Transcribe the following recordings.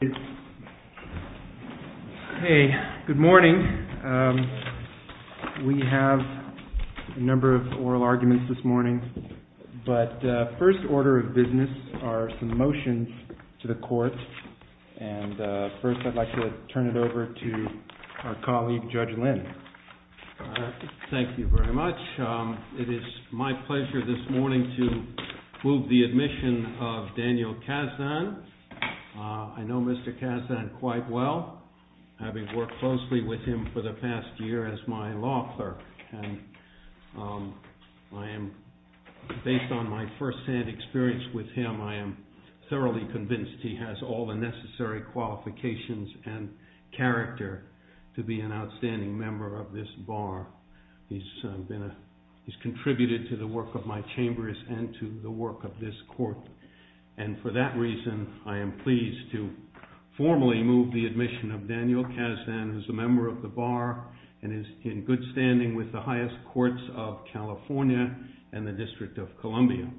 Good morning. We have a number of oral arguments this morning, but first order of business are some motions to the court. And first I'd like to turn it over to our colleague, Judge Lin. Thank you very much. It is my pleasure this morning to be here. I've known Mr. Kazan quite well, having worked closely with him for the past year as my law clerk. And based on my firsthand experience with him, I am thoroughly convinced he has all the necessary qualifications and character to be an outstanding member of this bar. He's contributed to the work of my chambers and to the work of this court. And for that reason, I am pleased to formally move the admission of Daniel Kazan, who's a member of the bar and is in good standing with the highest courts of California and the District of Columbia.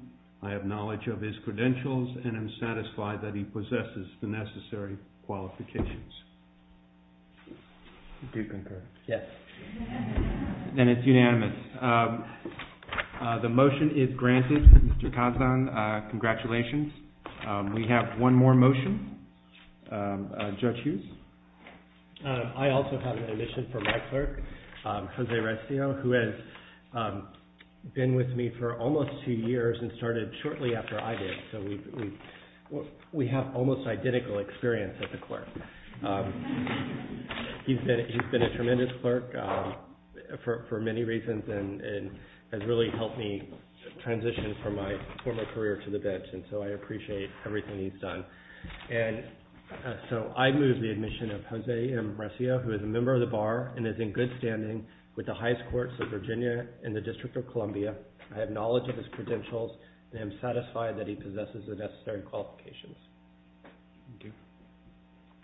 I have knowledge of his credentials and am satisfied that he possesses the necessary qualifications. Do you concur? Yes. Then it's unanimous. The motion is granted. Mr. Kazan, congratulations. We have one more motion. Judge Hughes? I also have an admission for my clerk, Jose Restio, who has been with me for almost two years and started shortly after I did. So we have almost identical experience as a clerk. He's been a tremendous clerk for many reasons and has really helped me transition from my former career to the bench. And so I appreciate everything he's done. And so I move the admission of Jose Restio, who is a member of the bar and is in good standing with the highest courts of Virginia and the District of Columbia. I have knowledge of his credentials and am satisfied that he possesses the necessary qualifications. Thank you.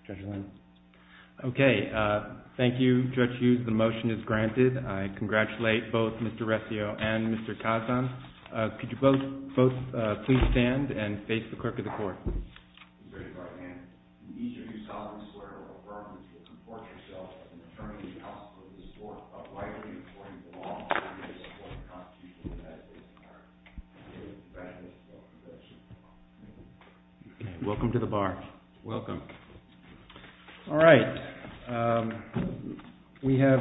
Judge Lynn? Okay. Thank you, Judge Hughes. The motion is granted. I congratulate both Mr. Restio and Mr. Kazan. Could you both please stand and face the clerk of the court. Welcome to the bar. Welcome. All right. We have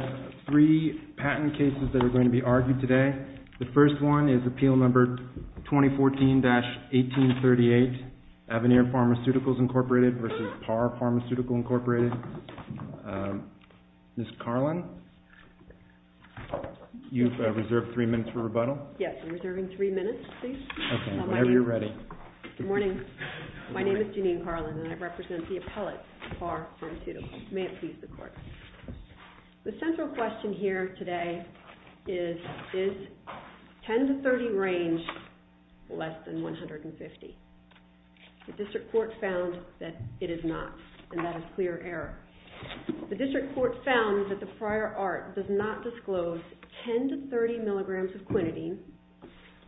three patent cases that are going to be argued today. The first one is Appeal Number 2014-1838, Avenir Pharmaceuticals, Incorporated versus Parr Pharmaceutical, Incorporated. Ms. Carlin? You've reserved three minutes for rebuttal? Yes. I'm reserving three minutes, please. Okay. Whenever you're ready. Good morning. My name is Janine Carlin, and I represent the appellate, Parr Pharmaceuticals. May it please the court. The central question here today is, is 10-30 range less than 150? The district court found that it is not, and that is clear error. The district court found that the prior art does not disclose 10-30 milligrams of quinidine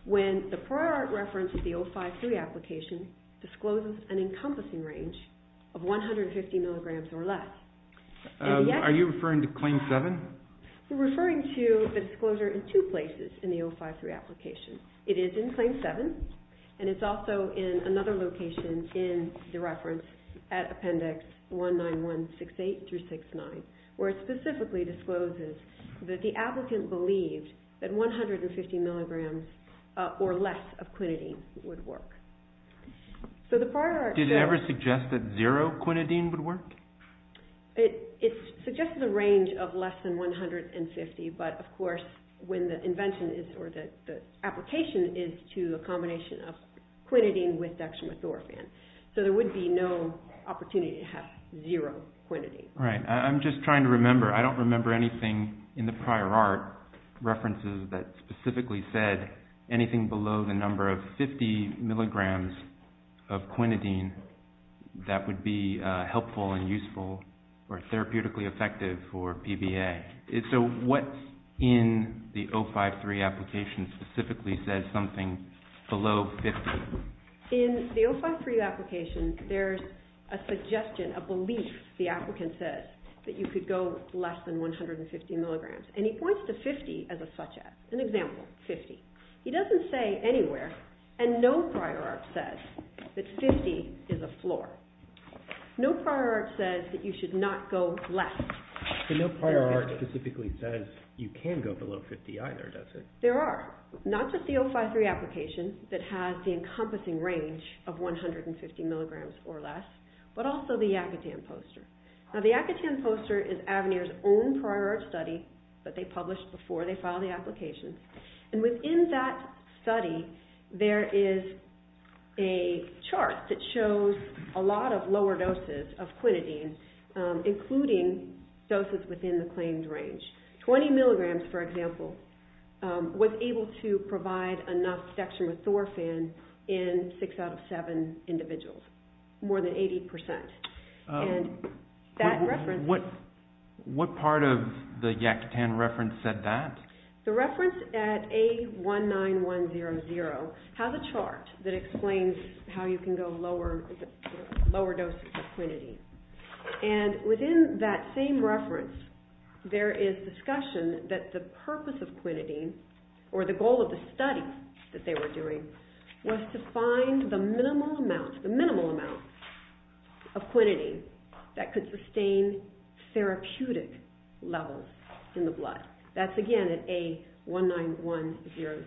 when the prior art reference of the 053 application discloses an encompassing range of 150 milligrams or less. Are you referring to Claim 7? I'm referring to a disclosure in two places in the 053 application. It is in Claim 7, and it's also in another location in the reference at Appendix 19168-69, where it specifically discloses that the applicant believed that 150 milligrams or less of quinidine would work. Did it ever suggest that zero quinidine would work? It suggested a range of less than 150, but of course, when the invention is, or the application is to a combination of quinidine with dextromethorphan, so there would be no opportunity to have zero quinidine. Right. I'm just trying to look for references that specifically said anything below the number of 50 milligrams of quinidine that would be helpful and useful or therapeutically effective for PBA. So what in the 053 application specifically says something below 50? In the 053 application, there's a suggestion, a belief, the applicant says, that you could go less than 150 milligrams, and he has a such as, an example, 50. He doesn't say anywhere, and no prior art says that 50 is a floor. No prior art says that you should not go less. So no prior art specifically says you can go below 50 either, does it? There are. Not just the 053 application that has the encompassing range of 150 milligrams or less, but also the Yacatan poster. Now the Yacatan poster is where they file the application, and within that study, there is a chart that shows a lot of lower doses of quinidine, including doses within the claimed range. 20 milligrams, for example, was able to provide enough dextromethorphan in six out of seven individuals, more than 80 percent. And that reference... What part of the Yacatan reference said that? The reference at A19100 has a chart that explains how you can go lower, lower doses of quinidine, and within that same reference, there is discussion that the purpose of quinidine, or the goal of the study that they were doing, was to find the minimal amount, the minimal amount of quinidine that could sustain therapeutic levels in the blood. That's again at A19100.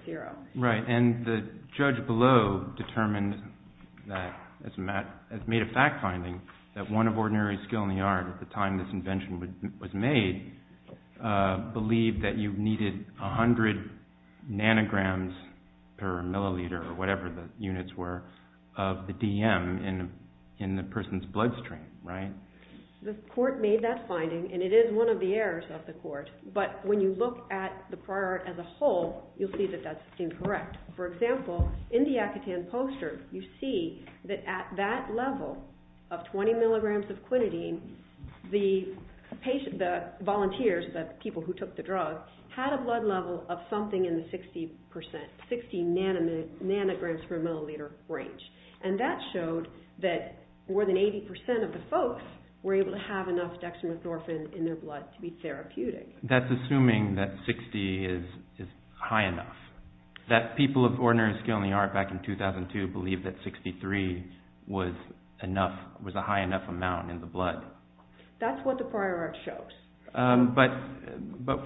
Right, and the judge below determined that, has made a fact finding, that one of ordinary skill in the art at the time this nanograms per milliliter, or whatever the units were, of the DM in the person's bloodstream, right? The court made that finding, and it is one of the errors of the court, but when you look at the prior art as a whole, you'll see that that's incorrect. For example, in the Yacatan poster, you see that at that level of 20 milligrams of quinidine, the patient, the volunteers, the people who took the drug, had a blood level of something in the 60 percent, 60 nanograms per milliliter range, and that showed that more than 80 percent of the folks were able to have enough dextromethorphan in their blood to be therapeutic. That's assuming that 60 is high enough, that people of ordinary skill in the art back in 2002 believed that 63 was enough, was a high enough amount in the blood. That's what the prior art shows. But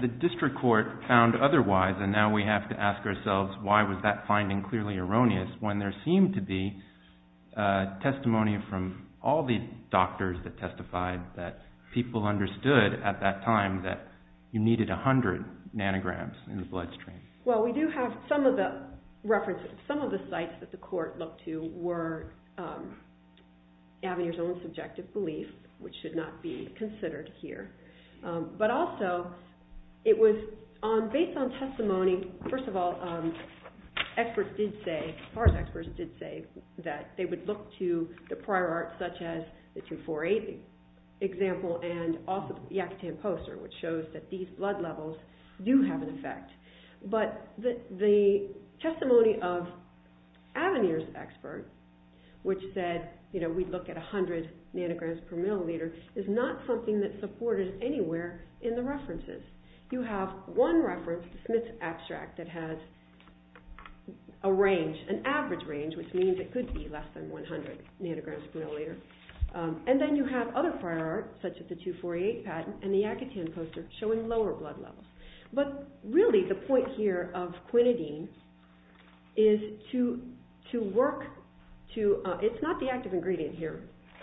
the district court found otherwise, and now we have to ask ourselves, why was that finding clearly erroneous when there seemed to be testimony from all the doctors that testified that people understood at that time that you needed 100 nanograms in the bloodstream? Well, we do have some of the references, some of the sites that the court looked to were Avenir's own subjective belief, which should not be considered here. But also, it was based on testimony. First of all, experts did say that they would look to the prior art such as the 248 example and also the Yacatan poster, which shows that these blood levels. The testimony of Avenir's expert, which said we'd look at 100 nanograms per milliliter, is not something that's supported anywhere in the references. You have one reference, the Smith's abstract, that has a range, an average range, which means it could be less than 100 nanograms per milliliter. And then you have other prior art, such as the 248 patent and the Yacatan poster, showing lower blood levels. But really, the point here of quinidine is to work to, it's not the active ingredient here.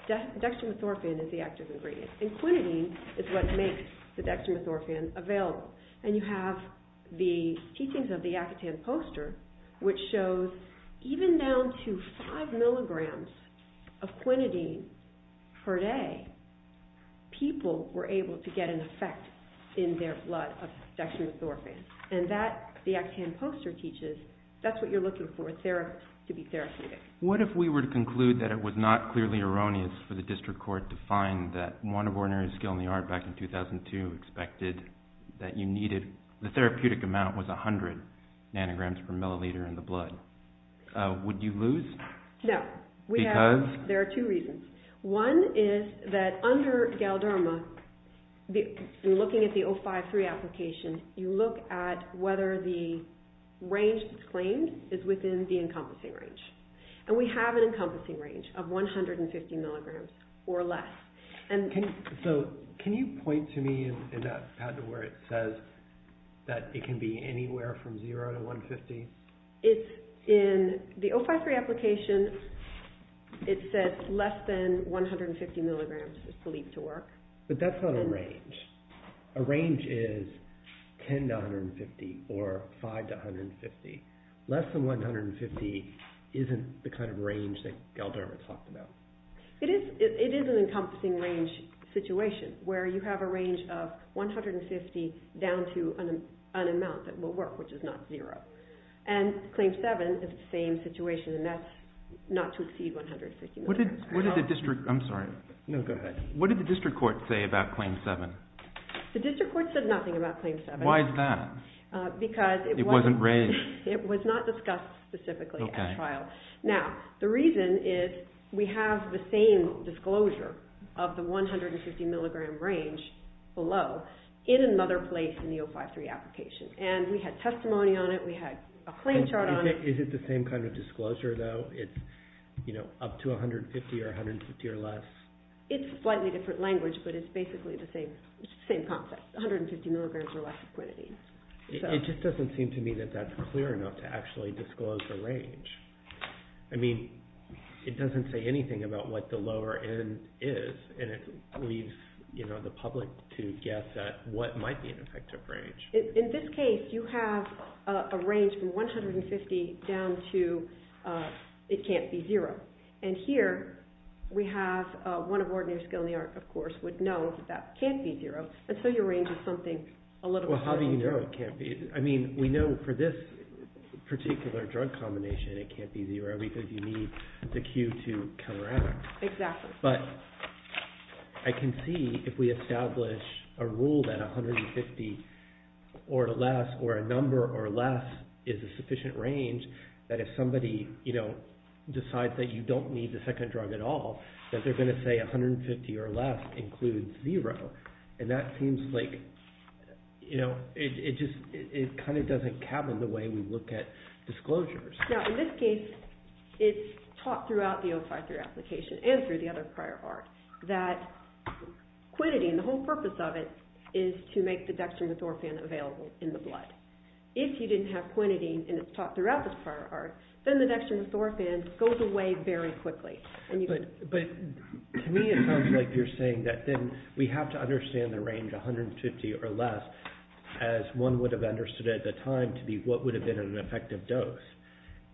Dextromethorphan is the active ingredient. And quinidine is what makes the dextromethorphan available. And you have the teachings of the Yacatan poster, which shows even down to 5 milligrams of quinidine per day, people were able to get an effect in their blood of dextromethorphan. And that, the Yacatan poster teaches, that's what you're looking for, to be therapeutic. What if we were to conclude that it was not clearly erroneous for the district court to find that one of ordinary skill in the art back in 2002 expected that you needed, the therapeutic amount was 100 nanograms per milliliter in the blood. Would you lose? No. Because? There are two reasons. One is that under Galderma, looking at the 053 application, you look at whether the range that's claimed is within the encompassing range. And we have an encompassing range of 150 milligrams or less. So can you point to me in that patent where it says that it can be anywhere from 0 to 150? It's in the 053 application. It says less than 150 milligrams is believed to work. But that's not a range. A range is 10 to 150 or 5 to 150. Less than 150 isn't the kind of range that it is. It is an encompassing range situation, where you have a range of 150 down to an amount that will work, which is not zero. And claim seven is the same situation, and that's not to exceed 150 milligrams. What did the district, I'm sorry. No, go ahead. What did the district court say about claim seven? The district court said nothing about claim seven. Why is that? Because it wasn't it was not discussed specifically at trial. Now, the reason is we have the same disclosure of the 150 milligram range below in another place in the 053 application. And we had testimony on it. We had a claim chart on it. Is it the same kind of disclosure though? It's up to 150 or 150 or less? It's slightly different language, but it's basically the same concept. 150 milligrams or less of quinidine. It just doesn't seem to me that that's clear enough to actually disclose the range. I mean, it doesn't say anything about what the lower end is, and it leaves, you know, the public to guess at what might be an effective range. In this case, you have a range from 150 down to it can't be zero. And here we have one of ordinary skill in the art, of course, would know that that can't be zero. And so your range is something a little... Well, how do you know it can't be? I mean, we know for this particular drug combination, it can't be zero because you need the cue to come around. Exactly. But I can see if we establish a rule that 150 or less or a number or less is a sufficient range that if somebody, you know, decides that you don't need the second drug at all, that they're going to say 150 or less includes zero. And that seems like, you know, it just, it kind of doesn't cabin the way we look at disclosures. Now, in this case, it's taught throughout the O5-3 application and through the other prior art that quinidine, the whole purpose of it is to make the dextromethorphan available in the blood. If you didn't have quinidine and it's taught throughout this prior art, then the dextromethorphan goes away very quickly. But to me, it sounds like you're saying that then we have to understand the range 150 or less as one would have understood at the time to be what would have been an effective dose.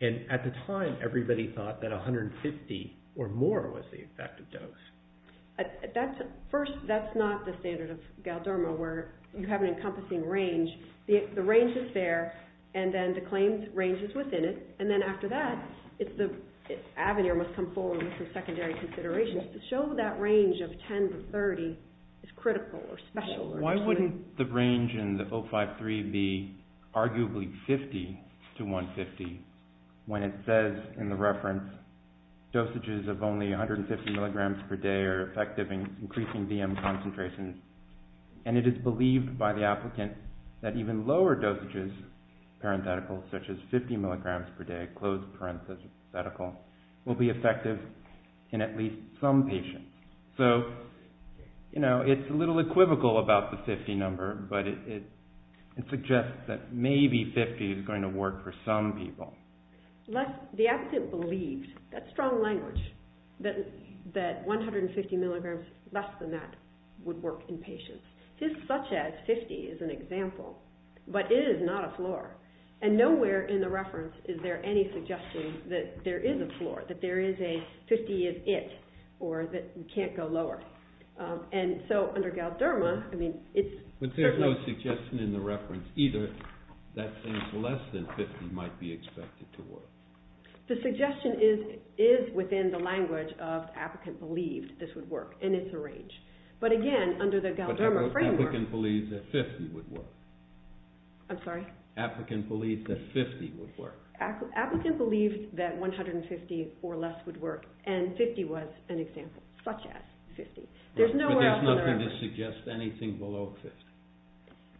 And at the time, everybody thought that 150 or more was the effective dose. That's, first, that's not the standard of Galderma where you have an encompassing range. The range is there and then the claimed range is within it. And then after that, it's the avenue must come forward for secondary considerations to show that range of 10 to 30 is critical or special. Why wouldn't the range in the O5-3 be arguably 50 to 150 when it says in the reference, dosages of only 150 milligrams per day are effective in increasing VM concentrations. And it is believed by the applicant that even lower dosages, parenthetical, such as 50 milligrams per day, closed parenthetical, will be effective in at least some patients. So, you know, it's a little equivocal about the 50 number, but it suggests that maybe 50 is going to work for some people. The applicant believed, that's strong language, that 150 milligrams less than that would work in patients. Just such as 50 is an example, but it is not a floor. And nowhere in the reference is there any suggestion that there is a floor, that there is a 50 is it, or that you can't go lower. And so under Galderma, I mean, it's... But there's no suggestion in the reference either that things less than 50 might be expected to work. The suggestion is within the language of applicant believed this would work, and it's a range. But again, under the Galderma framework... Applicant believed that 50 would work. I'm sorry? Applicant believed that 50 would work. Applicant believed that 150 or less would work, and 50 was an example, such as 50. There's nowhere to suggest anything below 50.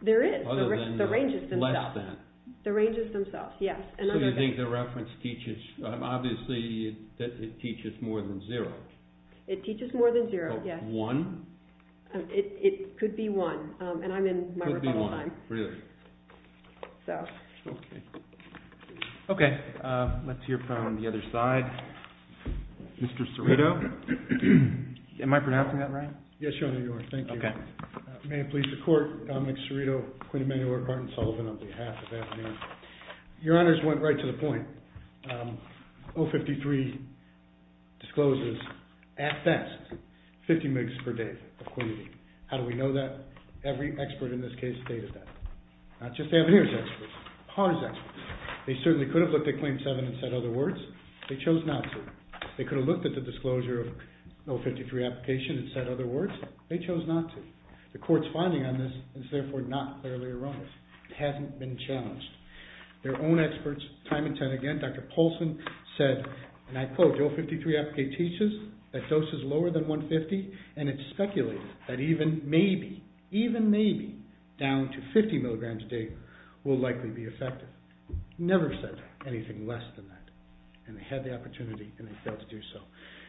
There is. Other than... The range is themselves. Less than. The range is themselves, yes. So you think the reference teaches... Obviously, it teaches more than zero. It teaches more than zero, yes. One? It could be one, and I'm in my rebuttal time. Really? So... Okay, let's hear from the other side. Mr. Cerrito? Am I pronouncing that right? Yes, Your Honor, you are. Thank you. Okay. May it please the Court, Dominic Cerrito, Quinn Emanuel, or Martin Sullivan, on behalf of Avenir. Your Honors went right to the point. 053 discloses, at best, 50 MIGs per day of quantity. How do we know that? Every expert in this case stated that. Not just Avenir's experts, PAR's experts. They certainly could have looked at Claim 7 and said other words. They chose not to. They could have looked at the disclosure of 053 application and said other words. They chose not to. The Court's finding on this is therefore not clearly erroneous. It hasn't been challenged. Their own experts, time and time again, Dr. Paulson said, and I quote, 053 application teaches that dose is lower than 150, and it's speculated that even maybe, even maybe, down to 50 milligrams a day will likely be effective. Never said anything less than that. And they had the opportunity, and they failed to do so.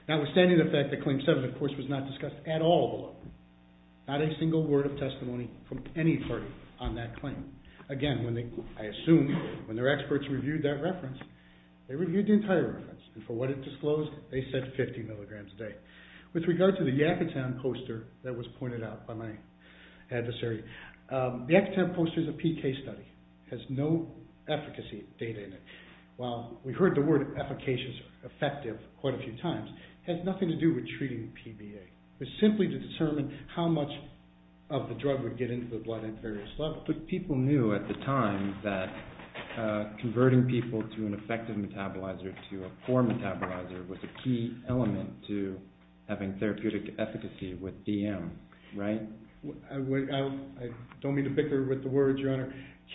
Notwithstanding the fact that Claim 7, of course, was not discussed at all, not a single word of testimony from any party on that claim. Again, when they, I assume, when their experts reviewed that reference, they reviewed the entire reference, and for what it disclosed, they said 50 milligrams a day. With regard to the Yakutam poster that was pointed out by my adversary, the Yakutam poster is a PK study, has no efficacy data in it. While we heard the word efficacious, effective quite a few times, it has nothing to do with treating PBA. It's simply to determine how much of the drug would get into the blood at various levels. But people knew at the time that converting people to an effective metabolizer, to a poor metabolizer, was a key element to having therapeutic efficacy with DM, right?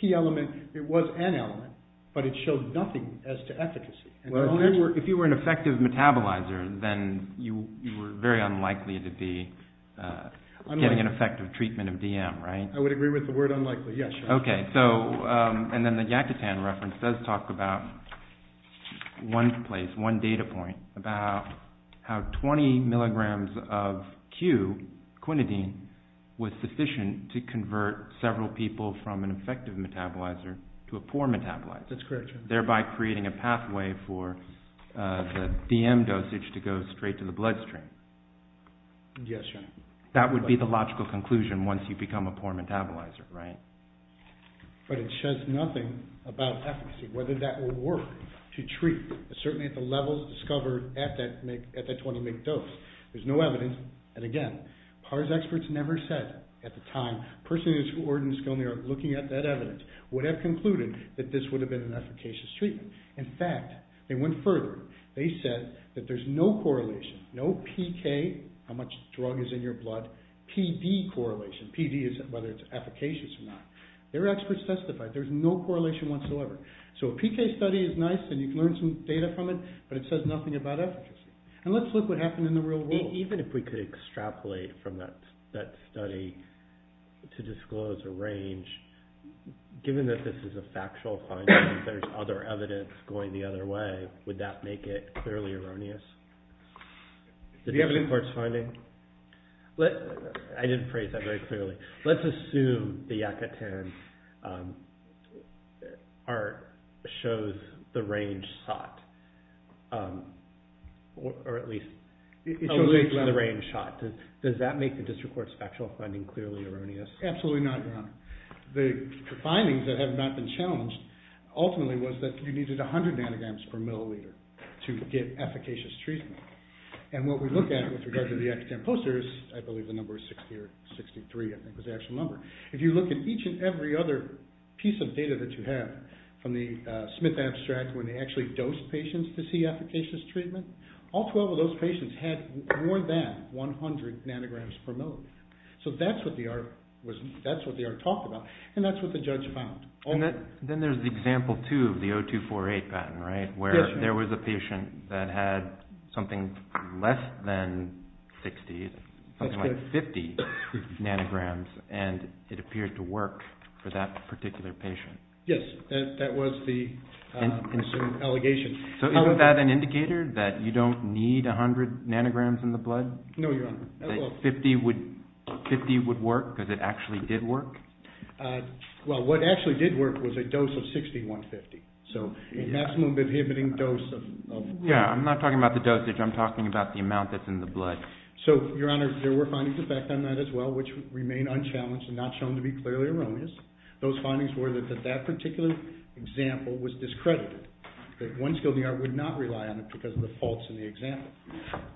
Key element, it was an element, but it showed nothing as to efficacy. If you were an effective metabolizer, then you were very unlikely to be getting an effective treatment of DM, right? I would agree with the word unlikely, yes. Okay, so, and then the Yakutam reference does talk about one place, one data point, about how 20 milligrams of Q, quinidine, was sufficient to convert several people from an effective metabolizer to a poor metabolizer. That's correct. Thereby creating a pathway for the DM dosage to go straight to the bloodstream. Yes. That would be the logical conclusion once you become a poor metabolizer, right? But it says nothing about efficacy, whether that will work to treat, certainly at the levels discovered at that 20 mg dose. There's no evidence. And again, PARS experts never said at the time, person who is ordained in Skolniak looking at that evidence, would have concluded that this would have been an efficacious treatment. In fact, they went further. They said that there's no correlation, no PK, how much drug is in your blood, PD correlation, PD is whether it's efficacious or not. Their experts testified there's no correlation whatsoever. So a PK study is nice and you can learn some data from it, but it says nothing about efficacy. And let's look what happened in the real world. Even if we could extrapolate from that study to disclose a range, given that this is a factual finding, if there's other evidence going the other way, would that make it clearly erroneous? Do you have any courts finding? I didn't phrase that very clearly. Let's assume the Yakutin art shows the range sought. It shows the range sought. Does that make the district court's factual finding clearly erroneous? Absolutely not, Your Honor. The findings that have not been challenged, ultimately was that you needed 100 nanograms per milliliter to get efficacious treatment. And what we look at with regard to the X-GAM posters, I believe the number is 60 or 63, I think was the actual number. If you look at each and every other piece of data that you have from the Smith abstract, when they actually dose patients to see efficacious treatment, all 12 of those patients had more than 100 nanograms per milliliter. So that's what the art talked about, and that's what the judge found. Then there's the example two of the 0248 patent, right? Where there was a patient that had something less than 60, something like 50 nanograms, and it appeared to work for that particular patient. Yes, that was the allegation. So isn't that an indicator that you don't need 100 nanograms in the blood? No, Your Honor. 50 would work because it actually did work? Well, what actually did work was a dose of 60, 150. So a maximum inhibiting dose of... Yeah, I'm not talking about the dosage. I'm talking about the amount that's in the blood. So, Your Honor, there were findings effect on that as well, which remain unchallenged and not shown to be clearly erroneous. Those findings were that that particular example was discredited. That one skilled ER would not rely on it because of the faults in the example.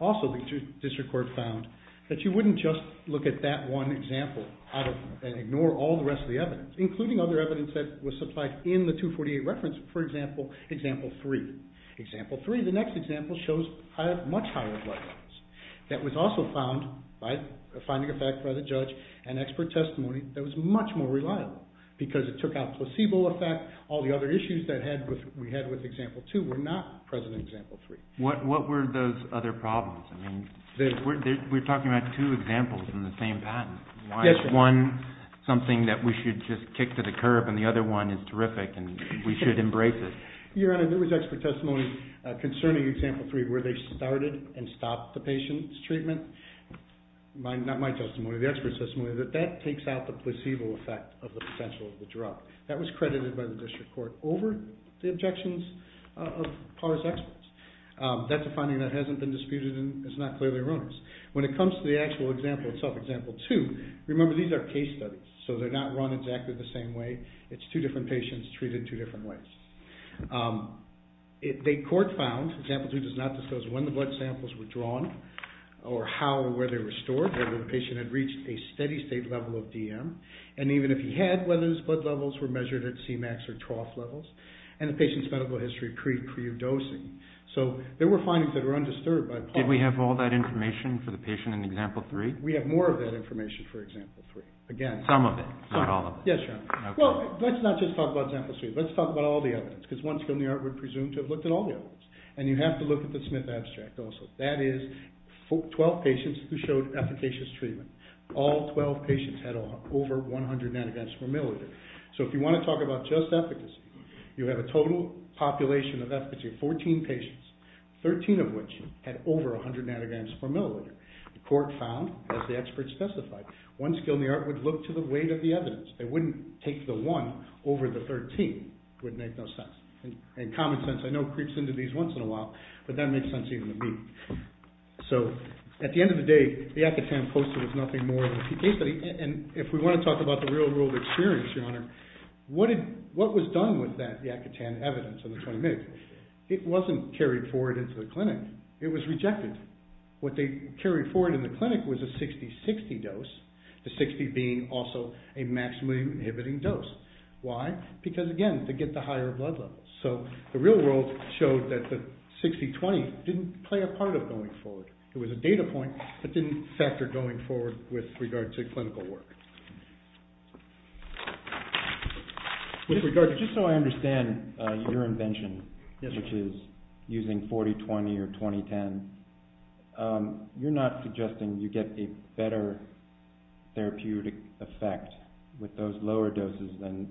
Also, the district court found that you wouldn't just look at that one example and ignore all the rest of the evidence, including other evidence that was supplied in the 0248 reference. For example, example three. Example three, the next example shows much higher blood levels. That was also found by finding a fact by the judge and expert testimony that was much more reliable because it took out placebo effect, all the other issues that we had with example two were not present in example three. What were those other problems? I mean, we're talking about two examples in the same patent. Why is one something that we should just kick to the curb and the other one is terrific and we should embrace it? Your Honor, there was expert testimony concerning example three where they started and stopped the patient's treatment. Not my testimony, the expert testimony, that that takes out the placebo effect of the potential of the drug. That was credited by the district court over the objections of PARS experts. That's a finding that hasn't been disputed and it's not clearly erroneous. When it comes to the actual example itself, example two, remember these are case studies, so they're not run exactly the same way. It's two different patients treated two different ways. The court found, example two does not disclose when the blood samples were drawn or how or where they were stored or the patient had reached a steady state level of DM and even if he had, whether his blood levels were measured at C-max or TROF levels and the patient's medical history pre-predosing. So there were findings that were undisturbed by PARS. Did we have all that information for the patient in example three? We have more of that information for example three. Again, some of it, not all of it. Yes, Your Honor. Well, let's not just talk about example three. Let's talk about all the evidence because one skill in the art would presume to have looked at all the evidence and you have to look at the Smith abstract also. That is 12 patients who showed efficacious treatment. All 12 patients had over 100 nanograms per milliliter. So if you want to talk about just efficacy, you have a total population of efficacy of 14 patients, 13 of which had over 100 nanograms per milliliter. The court found, as the expert specified, one skill in the art would look to the weight of the evidence. They wouldn't take the one over the 13. It would make no sense. And common sense I know creeps into these once in a while but that makes sense even to me. So at the end of the day, the Yat-Ka-Tan poster was nothing more than a PK study. And if we want to talk about the real world experience, Your Honor, what was done with that Yat-Ka-Tan evidence in the 20 minutes? It wasn't carried forward into the clinic. It was rejected. What they carried forward in the clinic was a 60-60 dose, the 60 being also a maximally inhibiting dose. Why? Because again, to get the higher blood levels. So the real world showed that the 60-20 didn't play a part of going forward. It was a data point that didn't factor going forward with regard to clinical work. Just so I understand your invention, which is using 40-20 or 20-10, you're not suggesting you get a better therapeutic effect with those lower doses than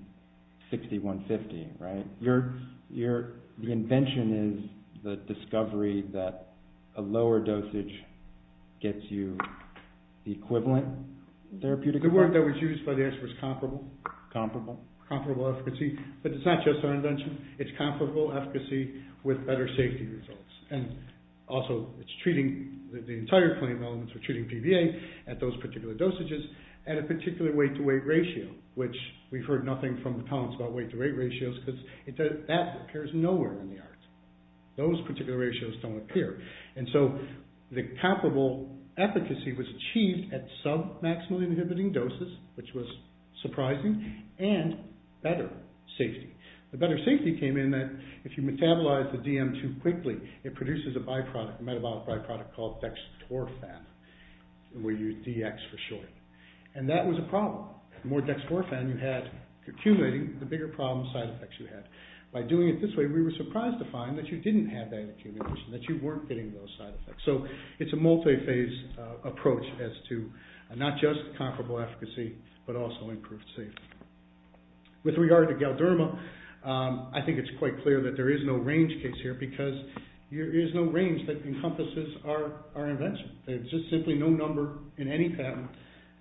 60-150, right? Your invention is the discovery that a lower dosage gets you the equivalent therapeutic effect? The word that was used by the experts, comparable. Comparable. Comparable efficacy. But it's not just our invention. It's comparable efficacy with better safety results. And also, it's treating the entire claim elements. We're treating PVA at those particular dosages at a particular weight-to-weight ratio, which we've heard nothing from the comments about weight-to-weight ratios, because that appears nowhere in the arts. Those particular ratios don't appear. And so the comparable efficacy was achieved at sub-maximally inhibiting doses, which was surprising, and better safety. The better safety came in that if you metabolize the DM2 quickly, it produces a byproduct, a metabolic byproduct called dextrofan. We use DX for short. And that was a problem. The more dextrofan you had accumulating, the bigger problem side effects you had. By doing it this way, we were surprised to find that you didn't have that accumulation, that you weren't getting those side effects. So it's a multi-phase approach as to not just comparable efficacy, but also improved safety. With regard to Galderma, I think it's quite clear that there is no range case here, because there is no range that encompasses our invention. There's just simply no number in any patent,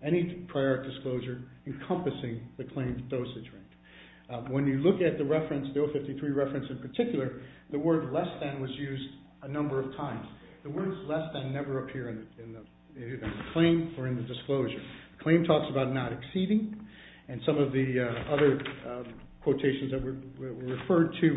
any prior disclosure encompassing the claim's dosage range. When you look at the reference, the 053 reference in particular, the word less than was used a number of times. The words less than never appear in the claim or in the disclosure. The claim talks about not exceeding, and some of the other quotations that were referred to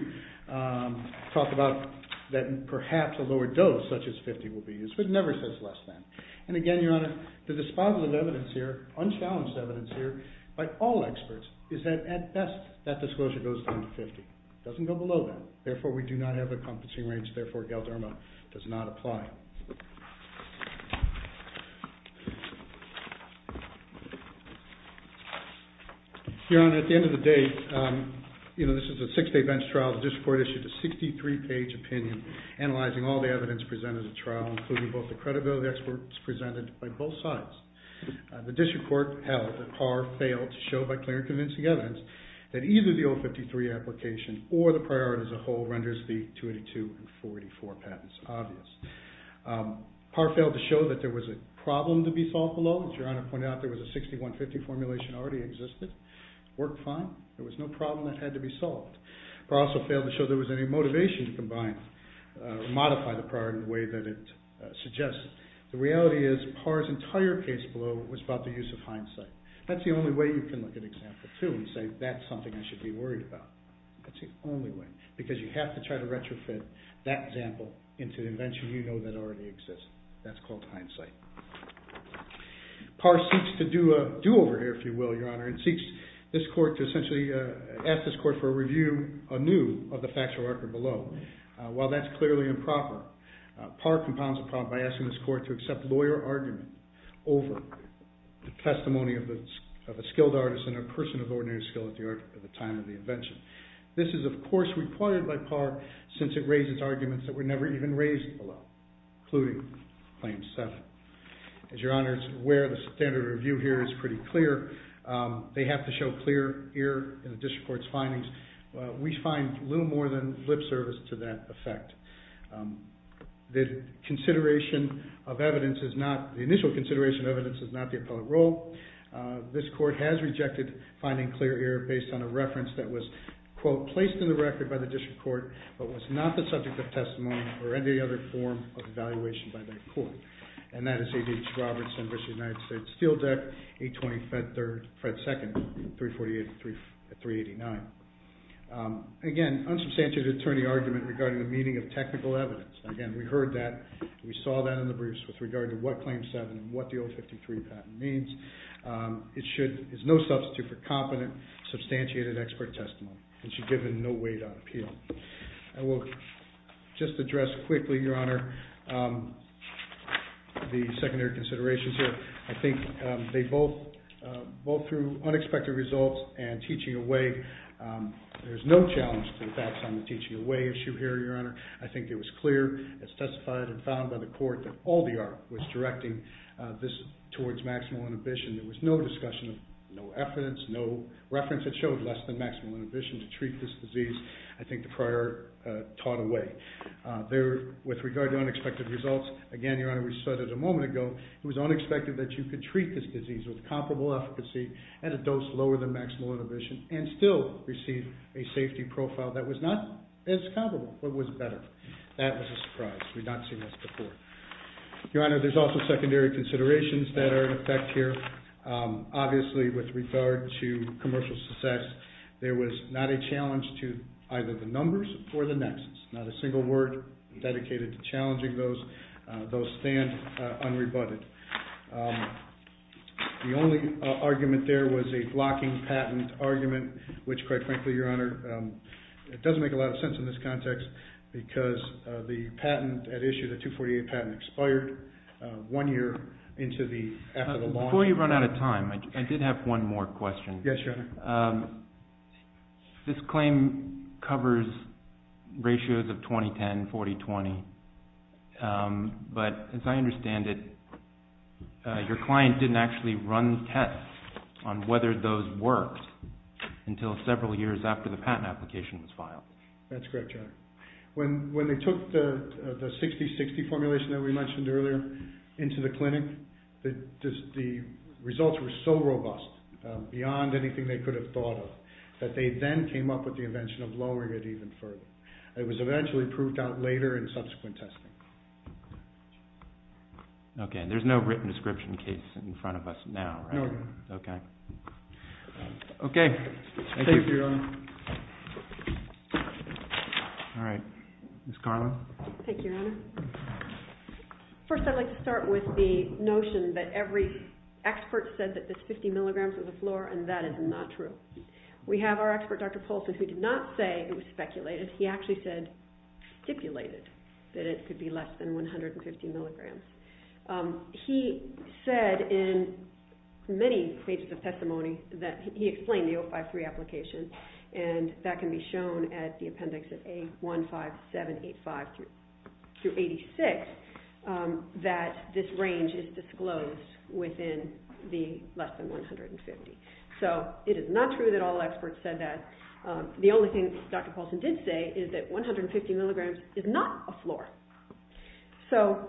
talk about that perhaps a lower dose, such as 50, will be used. But it never says less than. And again, Your Honor, the disposal of evidence here, unchallenged evidence here, by all experts, is that at best, that disclosure goes down to 50. It doesn't go below that. Therefore, we do not have encompassing range. Therefore, Galderma does not apply. Your Honor, at the end of the day, this is a six-day bench trial. analyzing all the evidence presented in the trial, including both the credibility experts presented by both sides. The district court held that Parr failed to show, by clear and convincing evidence, that either the 053 application or the priority as a whole renders the 282 and 484 patents obvious. Parr failed to show that there was a problem to be solved below. As Your Honor pointed out, there was a 6150 formulation already existed. It worked fine. There was no problem that had to be solved. Parr also failed to show there was any motivation to combine, modify the priority in the way that it suggests. The reality is, Parr's entire case below was about the use of hindsight. That's the only way you can look at example two and say, that's something I should be worried about. That's the only way. Because you have to try to retrofit that example into the invention you know that already exists. That's called hindsight. Parr seeks to do a do-over here, if you will, Your Honor, and seeks this court to essentially ask this court for a review anew of the factual record below. While that's clearly improper, Parr compounds the problem by asking this court to accept lawyer argument over the testimony of a skilled artist and a person of ordinary skill at the time of the invention. This is, of course, required by Parr since it raises arguments that were never even raised below, including claim seven. As Your Honor is aware, the standard of review They have to show clear ear in the district court's findings. We find little more than lip service to that effect. The initial consideration of evidence is not the appellate role. This court has rejected finding clear ear based on a reference that was, quote, placed in the record by the district court but was not the subject of testimony or any other form of evaluation by that court. And that is ADH Robertson v. United States Steel Deck, 820 Fred 2nd, 348-389. Again, unsubstantiated attorney argument regarding the meaning of technical evidence. Again, we heard that. We saw that in the briefs with regard to what claim seven and what the 053 patent means. It is no substitute for competent, substantiated expert testimony. It should give it no weight on appeal. I will just address quickly, Your Honor, the secondary considerations here. I think they both, both through unexpected results and teaching away, there's no challenge to the facts on the teaching away issue here, Your Honor. I think it was clear as testified and found by the court that all the art was directing this towards maximal inhibition. There was no discussion, no evidence, no reference that showed less than maximal inhibition to treat this disease. I think the prior taught away. There, with regard to unexpected results, again, Your Honor, we said it a moment ago. It was unexpected that you could treat this disease with comparable efficacy at a dose lower than maximal inhibition and still receive a safety profile that was not as comparable, but was better. That was a surprise. We've not seen this before. Your Honor, there's also secondary considerations that are in effect here. Obviously, with regard to commercial success, there was not a challenge to either the numbers or the nexus, not a single word dedicated to challenging those, those stand unrebutted. The only argument there was a blocking patent argument, which, quite frankly, Your Honor, it doesn't make a lot of sense in this context because the patent at issue, the 248 patent, expired one year after the launch. Before you run out of time, I did have one more question. Yes, Your Honor. This claim covers ratios of 20-10, 40-20, but as I understand it, your client didn't actually run tests on whether those worked until several years after the patent application was filed. That's correct, Your Honor. When they took the 60-60 formulation that we mentioned earlier into the clinic, the results were so robust, beyond anything they could have thought of, that they then came up with the invention of lowering it even further. It was eventually proved out later in subsequent testing. OK. There's no written description case in front of us now, right? No. OK. Thank you. Thank you, Your Honor. All right. Ms. Carlin. Thank you, Your Honor. First, I'd like to start with the notion that every expert said that this 50 milligrams was a floor, and that is not true. We have our expert, Dr. Polson, who did not say it was speculated. He actually said stipulated that it could be lower than 50. Less than 150 milligrams. He said in many pages of testimony that he explained the 053 application, and that can be shown at the appendix of A15785 through 86, that this range is disclosed within the less than 150. So it is not true that all experts said that. The only thing Dr. Polson did say is that 150 milligrams is not a floor. So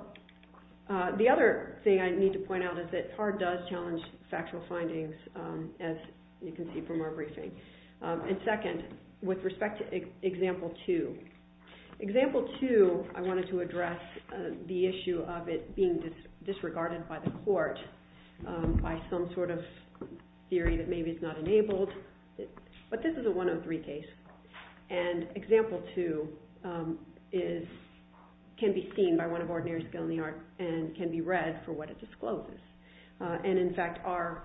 the other thing I need to point out is that TAR does challenge factual findings, as you can see from our briefing. And second, with respect to example two. Example two, I wanted to address the issue of it being disregarded by the court by some sort of theory that maybe it's not enabled. But this is a 103 case. And example two can be seen by one of ordinary skill in the art, and can be read for what it discloses. And in fact, our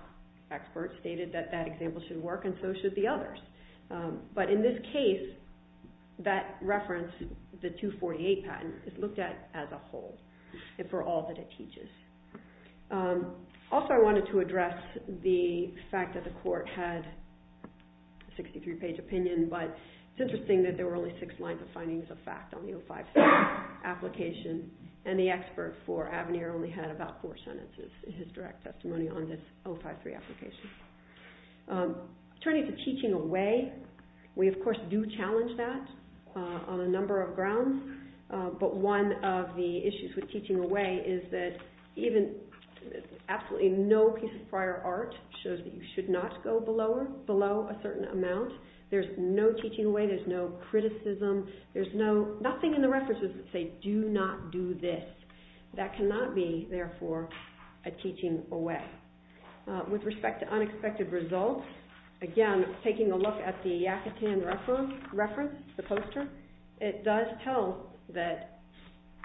expert stated that that example should work, and so should the others. But in this case, that reference, the 248 patent, is looked at as a whole, and for all that it teaches. Also, I wanted to address the fact that the court had a 63-page opinion. But it's interesting that there were only six lines of findings of fact on the 053 application. And the expert for Avenir only had about four sentences in his direct testimony on this 053 application. Turning to teaching away, we of course do challenge that on a number of grounds. But one of the issues with teaching away is that absolutely no piece of prior art shows that you should not go below a certain amount. There's no teaching away. There's no criticism. There's nothing in the references that say, do not do this. That cannot be, therefore, a teaching away. With respect to unexpected results, again, taking a look at the Yakutian reference, the poster, it does tell that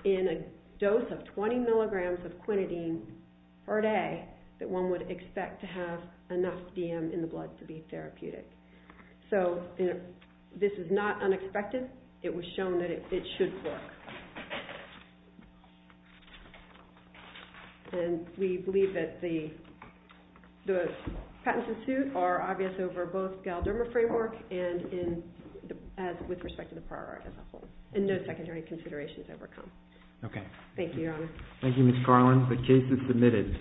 in a dose of 20 milligrams of quinidine part A that one would expect to have enough DM in the blood to be therapeutic. So this is not unexpected. It was shown that it should work. And we believe that the patents in suit are obvious over both galderma framework and with respect to the prior art as a whole. And no secondary considerations overcome. OK. Thank you, Your Honor. Thank you, Ms. Carlin. The case is submitted.